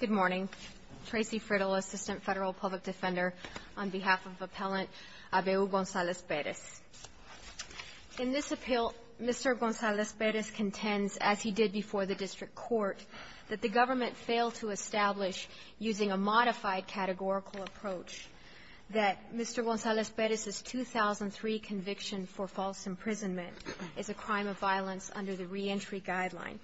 Good morning. Tracy Frittle, Assistant Federal Public Defender, on behalf of Appellant Abeo Gonzalez-Perez. In this appeal, Mr. Gonzalez-Perez contends, as he did before the District Court, that the government failed to establish, using a modified categorical approach, that Mr. Gonzalez-Perez's 2003 conviction for false imprisonment is a crime of violence under the reentry guideline.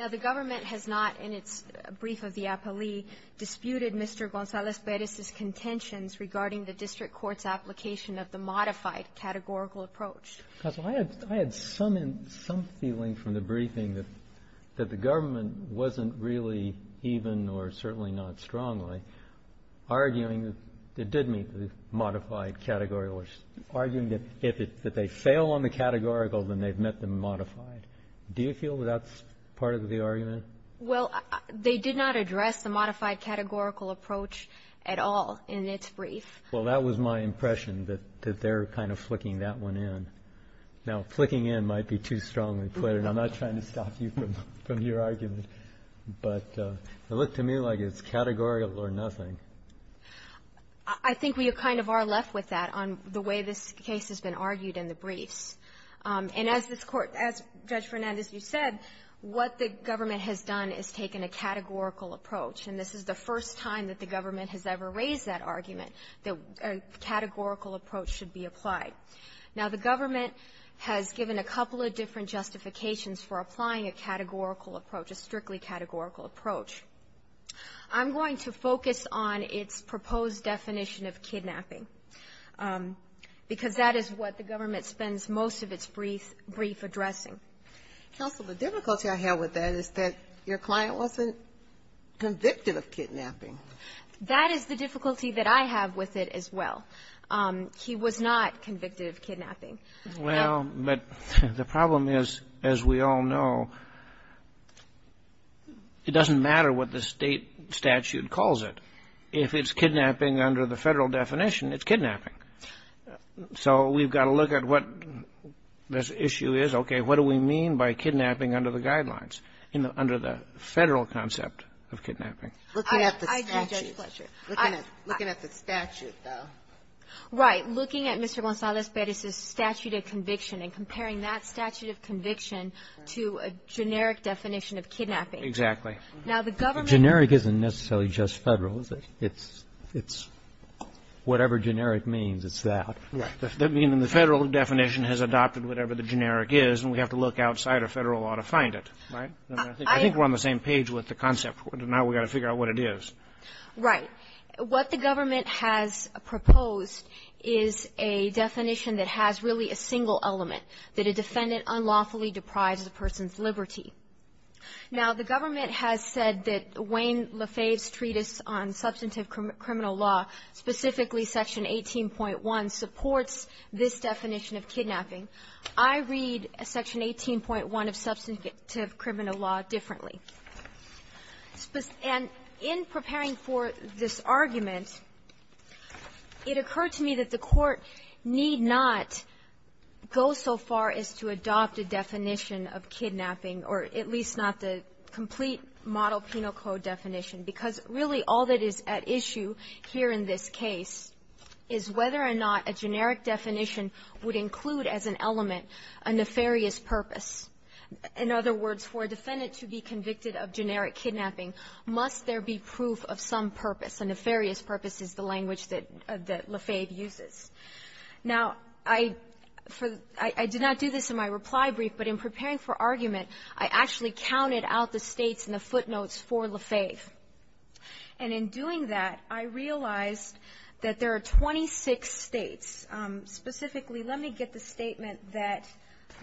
Now, the government has not, in its brief of the appellee, disputed Mr. Gonzalez-Perez's contentions regarding the District Court's application of the modified categorical approach. JUSTICE KENNEDY I had some feeling from the briefing that the government wasn't really even, or certainly not strongly, arguing that it did meet the modified categorical approach, arguing that if they fail on the categorical, then they've been modified. Do you feel that that's part of the argument? TRACY FRITTLE Well, they did not address the modified categorical approach at all in its JUSTICE KENNEDY Well, that was my impression, that they're kind of flicking that one in. Now, flicking in might be too strongly put, and I'm not trying to stop you from your argument, but it looked to me like it's categorical or nothing. TRACY FRITTLE I think we kind of are left with that on the way this case has been argued in the briefs. And as this Court — as, Judge Fernandez, you said, what the government has done is taken a categorical approach. And this is the first time that the government has ever raised that argument that a categorical approach should be applied. Now, the government has given a couple of different justifications for applying a categorical approach, a strictly categorical approach. I'm going to focus on its proposed definition of kidnapping. Because that is what the government spends most of its brief addressing. JUSTICE GINSBURG Counsel, the difficulty I have with that is that your client wasn't convicted of kidnapping. TRACY FRITTLE That is the difficulty that I have with it as well. He was not convicted of kidnapping. JUSTICE KENNEDY Well, but the problem is, as we all know, it doesn't matter what the State statute calls it. If it's kidnapping under the Federal definition, it's kidnapping. So we've got to look at what this issue is. Okay. What do we mean by kidnapping under the guidelines, under the Federal concept GINSBURG I do, Judge Fletcher. Looking at the statute, though. FLETCHER Right. Looking at Mr. Gonzalez-Perez's statute of conviction and comparing that statute of conviction to a generic definition of kidnapping. JUSTICE KENNEDY Exactly. FLETCHER Now, the government — JUSTICE KENNEDY So it's just Federal, is it? It's whatever generic means, it's that. FLETCHER Right. JUSTICE KENNEDY I mean, the Federal definition has adopted whatever the generic is, and we have to look outside of Federal law to find it. Right? I think we're on the same page with the concept. Now we've got to figure out what it is. TRACY FRITTLE Right. What the government has proposed is a definition that has really a single element, that a defendant unlawfully deprives the person's liberty. Now, the government has said that Wayne Lafayette's treatise on substantive criminal law, specifically Section 18.1, supports this definition of kidnapping. I read Section 18.1 of substantive criminal law differently. And in preparing for this argument, it occurred to me that the Court need not go so far as to adopt a definition of kidnapping, or at least not the complete model penal code definition, because really all that is at issue here in this case is whether or not a generic definition would include as an element a nefarious purpose. In other words, for a defendant to be convicted of generic kidnapping, must there be proof of some purpose? A nefarious purpose is the language that Lafayette uses. Now, I did not do this in my reply brief, but in preparing for argument, I actually counted out the States and the footnotes for Lafayette. And in doing that, I realized that there are 26 States. Specifically, let me get the statement that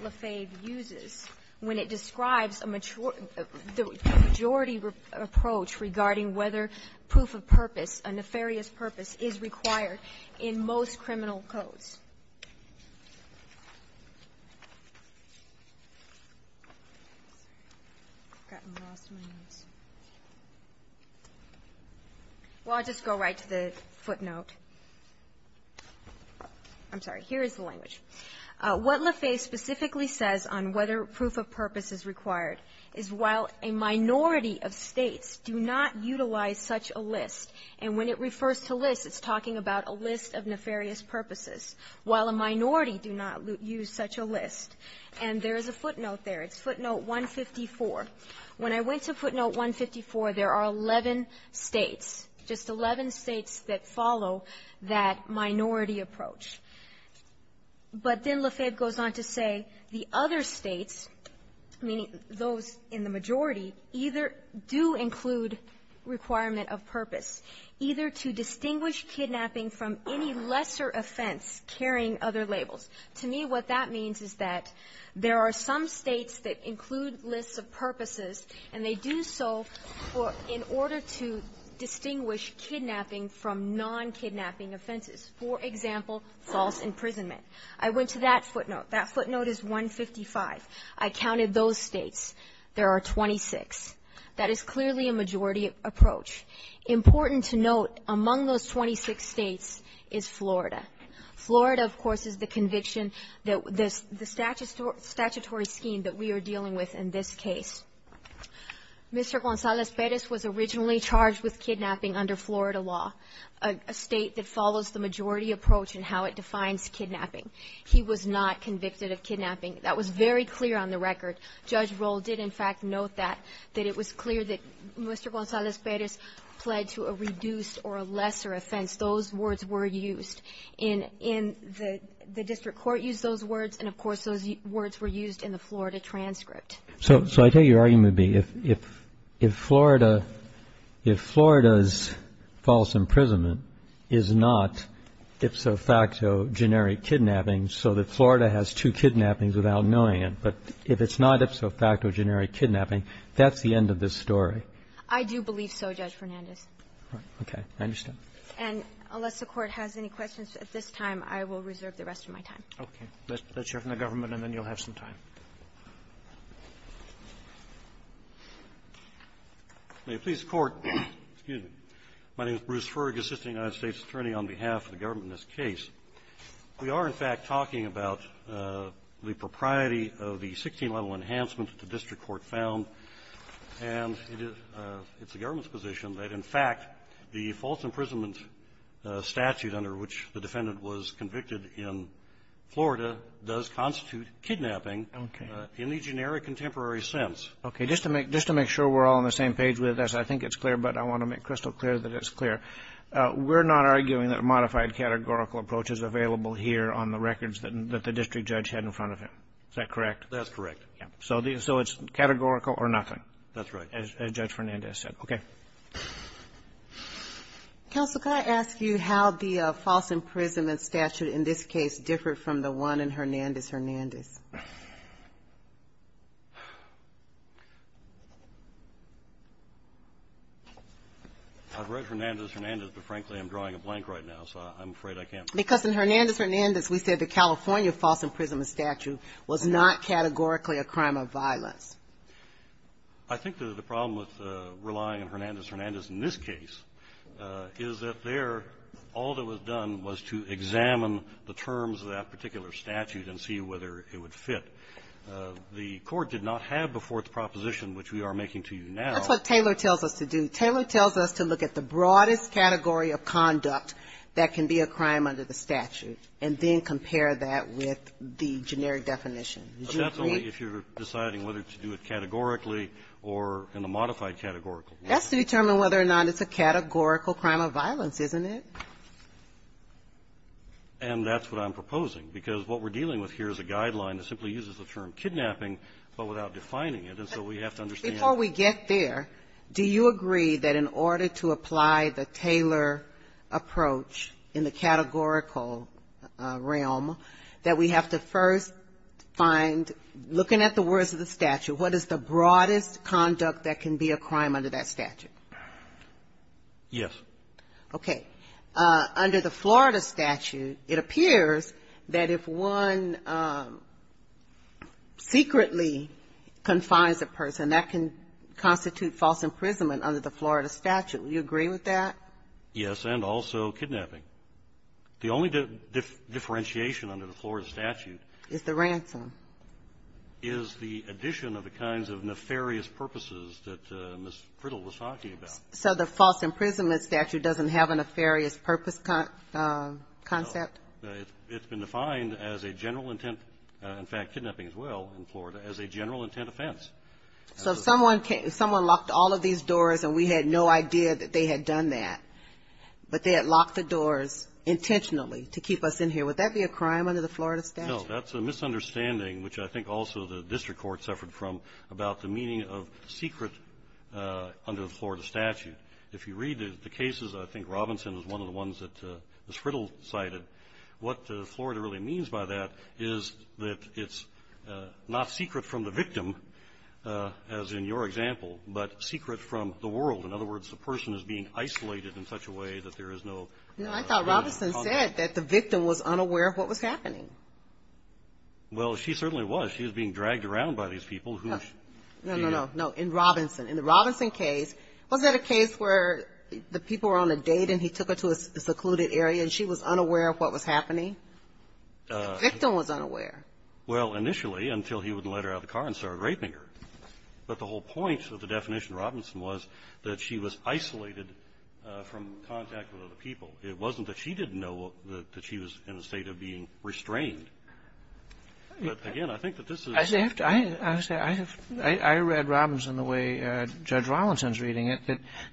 Lafayette uses when it describes a majority approach regarding whether proof of purpose, a nefarious purpose, is required in most criminal codes. Well, I'll just go right to the footnote. I'm sorry. Here is the language. What Lafayette specifically says on whether proof of purpose is required is while a minority of States do not utilize such a list, and when it refers to list, it's talking about a list of nefarious purposes, while a minority do not use such a list. And there is a footnote there. It's footnote 154. When I went to footnote 154, there are 11 States, just 11 States that follow that minority approach. But then Lafayette goes on to say the other States, meaning those in the majority, either do include requirement of purpose, either to distinguish kidnapping from any lesser offense carrying other labels. To me, what that means is that there are some States that include lists of purposes, and they do so for or in order to distinguish kidnapping from non-kidnapping offenses. For example, false imprisonment. I went to that footnote. That footnote is 155. I counted those States. There are 26. That is clearly a majority approach. Important to note, among those 26 States is Florida. Florida, of course, is the conviction that the statutory scheme that we are dealing with in this case. Mr. Gonzalez Perez was originally charged with kidnapping under Florida law, a State that follows the majority approach in how it defines kidnapping. He was not convicted of kidnapping. That was very clear on the record. Judge Roll did, in fact, note that, that it was clear that Mr. Gonzalez Perez pled to a reduced or a lesser offense. Those words were used in the district court used those words, and of course, those words were used in the Florida transcript. So I take your argument to be if Florida's false imprisonment is not, if so facto, generic kidnapping, so that Florida has two kidnappings without knowing it. But if it's not, if so facto, generic kidnapping, that's the end of this story. I do believe so, Judge Fernandez. Okay. I understand. And unless the Court has any questions at this time, I will reserve the rest of my time. Okay. Let's hear from the government, and then you'll have some time. May it please the Court. Excuse me. My name is Bruce Ferg, assistant United States attorney on behalf of the government in this case. We are, in fact, talking about the propriety of the 16-level enhancement that the district court found, and it is the government's position that, in fact, the false imprisonment statute under which the defendant was convicted in Florida does constitute kidnapping in the generic and temporary sense. Okay. Just to make sure we're all on the same page with this, I think it's clear, but I want to make crystal clear that it's clear. We're not arguing that a modified categorical approach is available here on the records that the district judge had in front of him. Is that correct? That's correct. So it's categorical or nothing? That's right. As Judge Fernandez said. Okay. Counsel, can I ask you how the false imprisonment statute in this case differed from the one in Hernandez-Hernandez? I've read Hernandez-Hernandez, but frankly, I'm drawing a blank right now, so I'm afraid I can't answer that. Because in Hernandez-Hernandez, we said the California false imprisonment statute was not categorically a crime of violence. I think that the problem with relying on Hernandez-Hernandez in this case is that there, all that was done was to examine the terms of that particular statute and see whether it would fit. The court did not have a fourth proposition, which we are making to you now. That's what Taylor tells us to do. Taylor tells us to look at the broadest category of conduct that can be a crime under the statute, and then compare that with the generic definition. But that's only if you're deciding whether to do it categorically or in a modified categorical way. That's to determine whether or not it's a categorical crime of violence, isn't it? And that's what I'm proposing, because what we're dealing with here is a guideline that simply uses the term kidnapping, but without defining it. And so we have to understand the need. Before we get there, do you agree that in order to apply the Taylor approach in the categorical realm, that we have to first find, looking at the words of the statute, what is the broadest conduct that can be a crime under that statute? Yes. Okay. Under the Florida statute, it appears that if one secretly confines a person, that can constitute false imprisonment under the Florida statute. Do you agree with that? Yes, and also kidnapping. The only differentiation under the Florida statute is the ransom. Is the addition of the kinds of nefarious purposes that Ms. Priddle was talking about. So the false imprisonment statute doesn't have a nefarious purpose concept? No. It's been defined as a general intent, in fact, kidnapping as well in Florida, as a general intent offense. So if someone locked all of these doors and we had no idea that they had done that, but they had locked the doors intentionally to keep us in here, would that be a crime under the Florida statute? No. That's a misunderstanding, which I think also the district court suffered from, about the meaning of secret under the Florida statute. If you read the cases, I think Robinson was one of the ones that Ms. Priddle cited, what Florida really means by that is that it's not secret from the victim, as in your example, but secret from the world. In other words, the person is being isolated in such a way that there is no ---- No, I thought Robinson said that the victim was unaware of what was happening. Well, she certainly was. She was being dragged around by these people who ---- No, no, no, no. In Robinson. In the Robinson case, was that a case where the people were on a date and he took her to a secluded area and she was unaware of what was happening? The victim was unaware. Well, initially, until he wouldn't let her out of the car and started raping her. But the whole point of the definition of Robinson was that she was isolated from contact with other people. It wasn't that she didn't know that she was in a state of being restrained. But, again, I think that this is ---- I have to say, I read Robinson the way Judge Rollinson is reading it,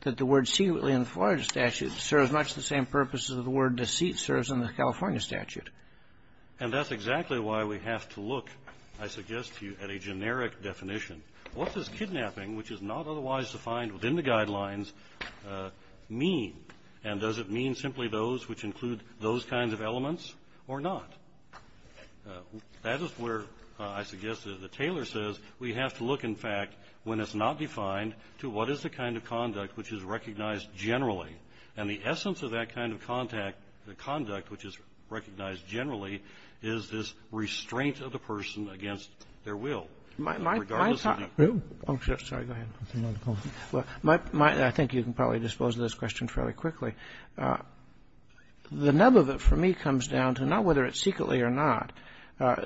that the word secretly in the Florida statute serves much the same purpose as the word deceit serves in the California statute. And that's exactly why we have to look, I suggest to you, at a generic definition. What does kidnapping, which is not otherwise defined within the guidelines, mean? And does it mean simply those which include those kinds of elements or not? That is where I suggest that the tailor says we have to look, in fact, when it's not defined to what is the kind of conduct which is recognized generally. And the essence of that kind of contact, the conduct which is recognized generally, is this restraint of the person against their will, regardless of the ---- My ---- I'm sorry. Go ahead. I think you can probably dispose of this question fairly quickly. The nub of it for me comes down to not whether it's secretly or not,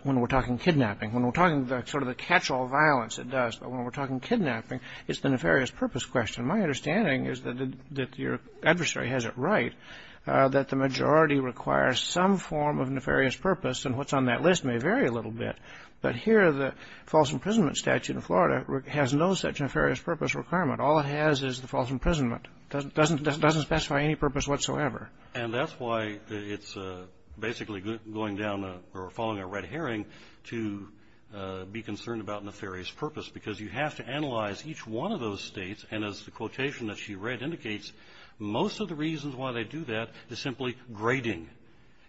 when we're talking kidnapping. When we're talking sort of the catch-all violence, it does. But when we're talking kidnapping, it's the nefarious purpose question. My understanding is that your adversary has it right that the majority requires some form of nefarious purpose. And what's on that list may vary a little bit. But here the false imprisonment statute in Florida has no such nefarious purpose requirement. All it has is the false imprisonment. It doesn't specify any purpose whatsoever. And that's why it's basically going down or following a red herring to be concerned about nefarious purpose, because you have to analyze each one of those states. And as the quotation that she read indicates, most of the reasons why they do that is simply grading.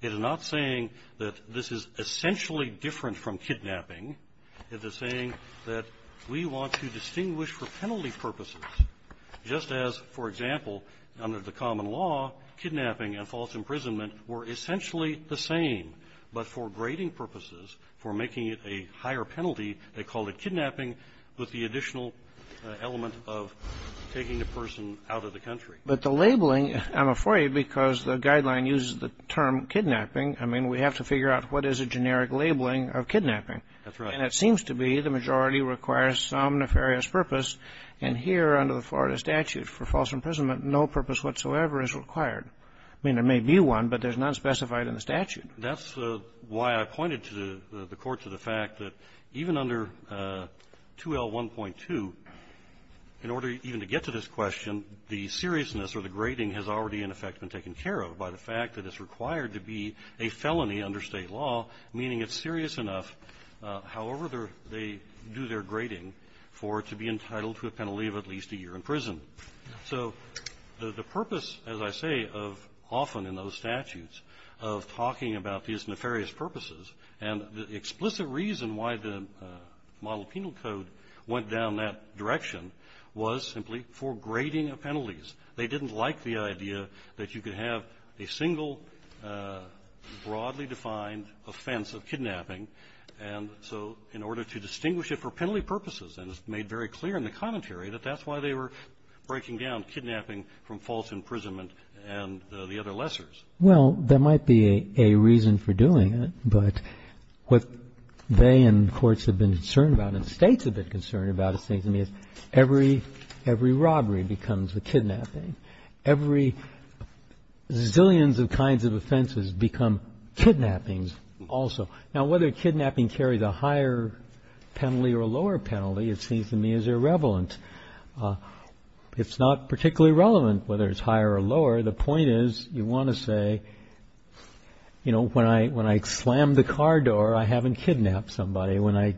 It is not saying that this is essentially different from kidnapping. It is saying that we want to distinguish for penalty purposes, just as, for example, under the common law, kidnapping and false imprisonment were essentially the same. But for grading purposes, for making it a higher penalty, they called it kidnapping with the additional element of taking the person out of the country. But the labeling, I'm afraid, because the guideline uses the term kidnapping, I mean, we have to figure out what is a generic labeling of kidnapping. That's right. And it seems to be the majority requires some nefarious purpose. And here under the Florida statute for false imprisonment, no purpose whatsoever is required. I mean, there may be one, but there's none specified in the statute. That's why I pointed to the court to the fact that even under 2L1.2, in order even to get to this question, the seriousness or the grading has already in effect been taken care of by the fact that it's required to be a felony under State law, meaning it's serious enough, however they do their grading, for it to be entitled to a penalty of at least a year in prison. So the purpose, as I say, of often in those statutes, of talking about these nefarious purposes, and the explicit reason why the model penal code went down that direction was simply for grading of penalties. They didn't like the idea that you could have a single broadly defined offense of kidnapping. And so in order to distinguish it for penalty purposes, and it's made very clear in the commentary that that's why they were breaking down kidnapping from false imprisonment and the other lessors. Well, there might be a reason for doing it, but what they and courts have been concerned about and states have been concerned about, it seems to me, is every robbery becomes a kidnapping. Every zillions of kinds of offenses become kidnappings also. Now, whether kidnapping carries a higher penalty or a lower penalty, it seems to me is irrelevant. It's not particularly relevant whether it's higher or lower. The point is you want to say, you know, when I slammed the car door, I haven't kidnapped somebody. When I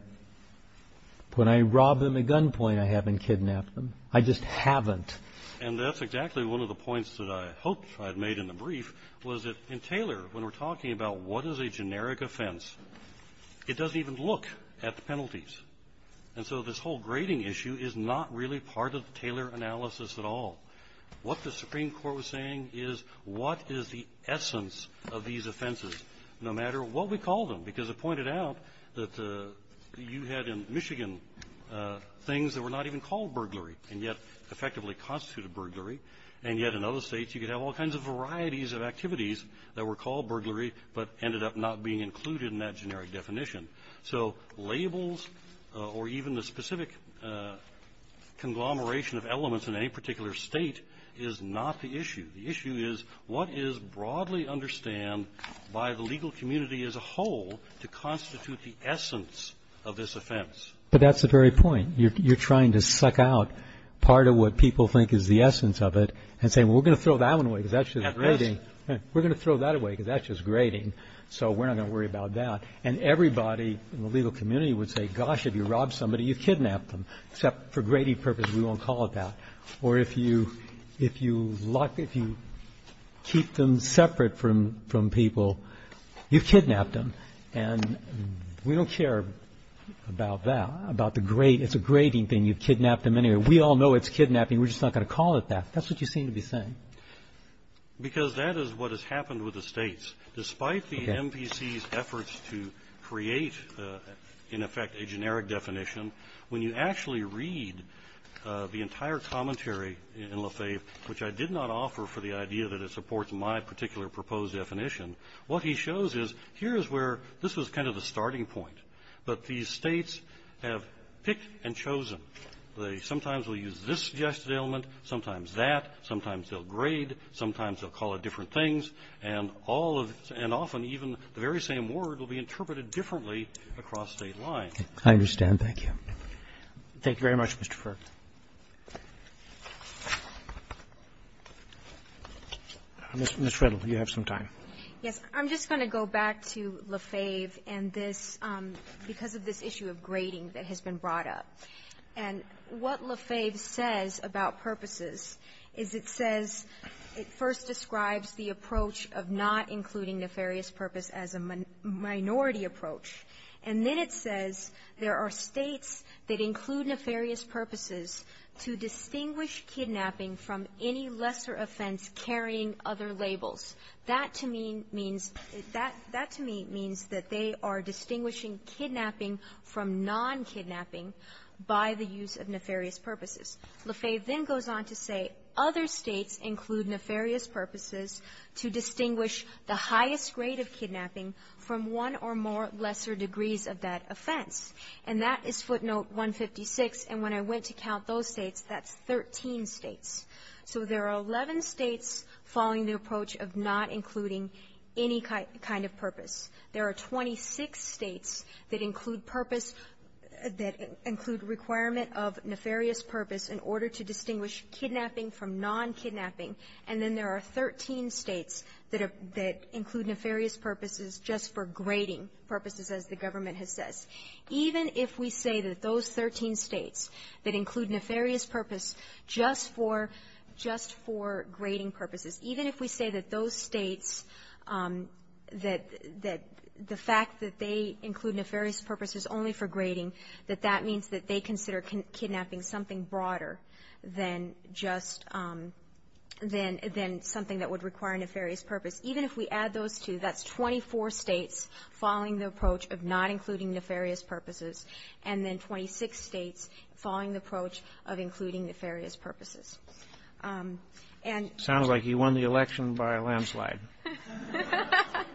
robbed them at gunpoint, I haven't kidnapped them. I just haven't. And that's exactly one of the points that I hoped I'd made in the brief was that in Taylor, when we're talking about what is a generic offense, it doesn't even look at the penalties. And so this whole grading issue is not really part of the Taylor analysis at all. What the Supreme Court was saying is what is the essence of these offenses, no matter what we call them, because it pointed out that you had in Michigan things that were not even called burglary and yet effectively constituted burglary, and yet in other states you could have all kinds of varieties of activities that were called burglary but ended up not being included in that generic definition. So labels or even the specific conglomeration of elements in any particular state is not the issue. The issue is what is broadly understood by the legal community as a whole to constitute the essence of this offense. But that's the very point. You're trying to suck out part of what people think is the essence of it and say, well, we're going to throw that one away because that's just grading. We're going to throw that away because that's just grading, so we're not going to worry about that. And everybody in the legal community would say, gosh, if you rob somebody, you've kidnapped them, except for grading purposes we won't call it that. Or if you keep them separate from people, you've kidnapped them. And we don't care about that, about the grade. It's a grading thing. You've kidnapped them anyway. We all know it's kidnapping. We're just not going to call it that. That's what you seem to be saying. Because that is what has happened with the states. Despite the MVC's efforts to create, in effect, a generic definition, when you actually read the entire commentary in Lefebvre, which I did not offer for the idea that it supports my particular proposed definition, what he shows is here is where this was kind of the starting point. But these states have picked and chosen. They sometimes will use this suggested element, sometimes that, sometimes they'll grade, sometimes they'll call it different things. And often even the very same word will be interpreted differently across state lines. I understand. Thank you. Roberts. Thank you very much, Mr. Ferg. Ms. Riddle, you have some time. I'm just going to go back to Lefebvre and this, because of this issue of grading that has been brought up. And what Lefebvre says about purposes is it says it first describes the approach of not including nefarious purpose as a minority approach. And then it says there are states that include nefarious purposes to distinguish kidnapping from any lesser offense carrying other labels. That, to me, means that they are distinguishing kidnapping from non-kidnapping by the use of nefarious purposes. Lefebvre then goes on to say other states include nefarious purposes to distinguish the highest grade of kidnapping from one or more lesser degrees of that offense. And that is footnote 156. And when I went to count those states, that's 13 states. So there are 11 states following the approach of not including any kind of purpose. There are 26 states that include purpose, that include requirement of nefarious purpose in order to distinguish kidnapping from non-kidnapping. And then there are 13 states that include nefarious purposes just for grading purposes, as the government has said. Even if we say that those 13 states that include nefarious purpose just for grading purposes, even if we say that those states, that the fact that they include nefarious purposes only for grading, that that means that they consider kidnapping something broader than just, than something that would require nefarious purpose. Even if we add those two, that's 24 states following the approach of not including nefarious purposes, and then 26 states following the approach of including nefarious purposes. And ---- Roberts. Sounds like he won the election by a landslide. ----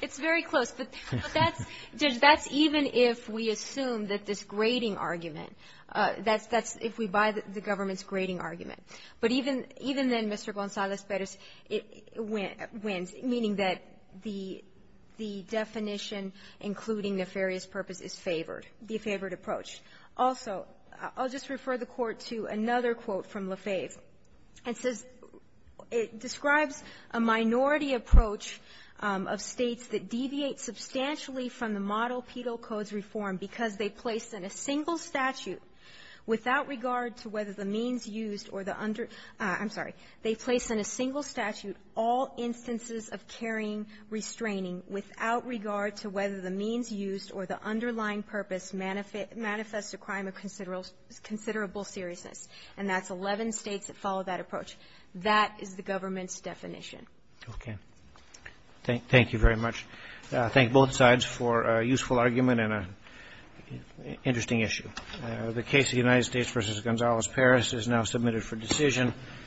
It's very close. But that's, Judge, that's even if we assume that this grading argument, that's if we buy the government's grading argument. But even then, Mr. Gonzalez-Perez, it wins, meaning that the definition including nefarious purpose is favored, the favored approach. Also, I'll just refer the Court to another quote from Lefebvre. It says, it describes a minority approach of states that deviate substantially from the model penal codes reform because they place in a single statute without regard to whether the means used or the under ---- I'm sorry, they place in a single statute all instances of carrying restraining without regard to whether the means used or the underlying purpose manifests a crime of considerable seriousness. And that's 11 states that follow that approach. That is the government's definition. Okay. Thank you very much. Thank both sides for a useful argument and an interesting issue. The case of the United States v. Gonzalez-Perez is now submitted for decision.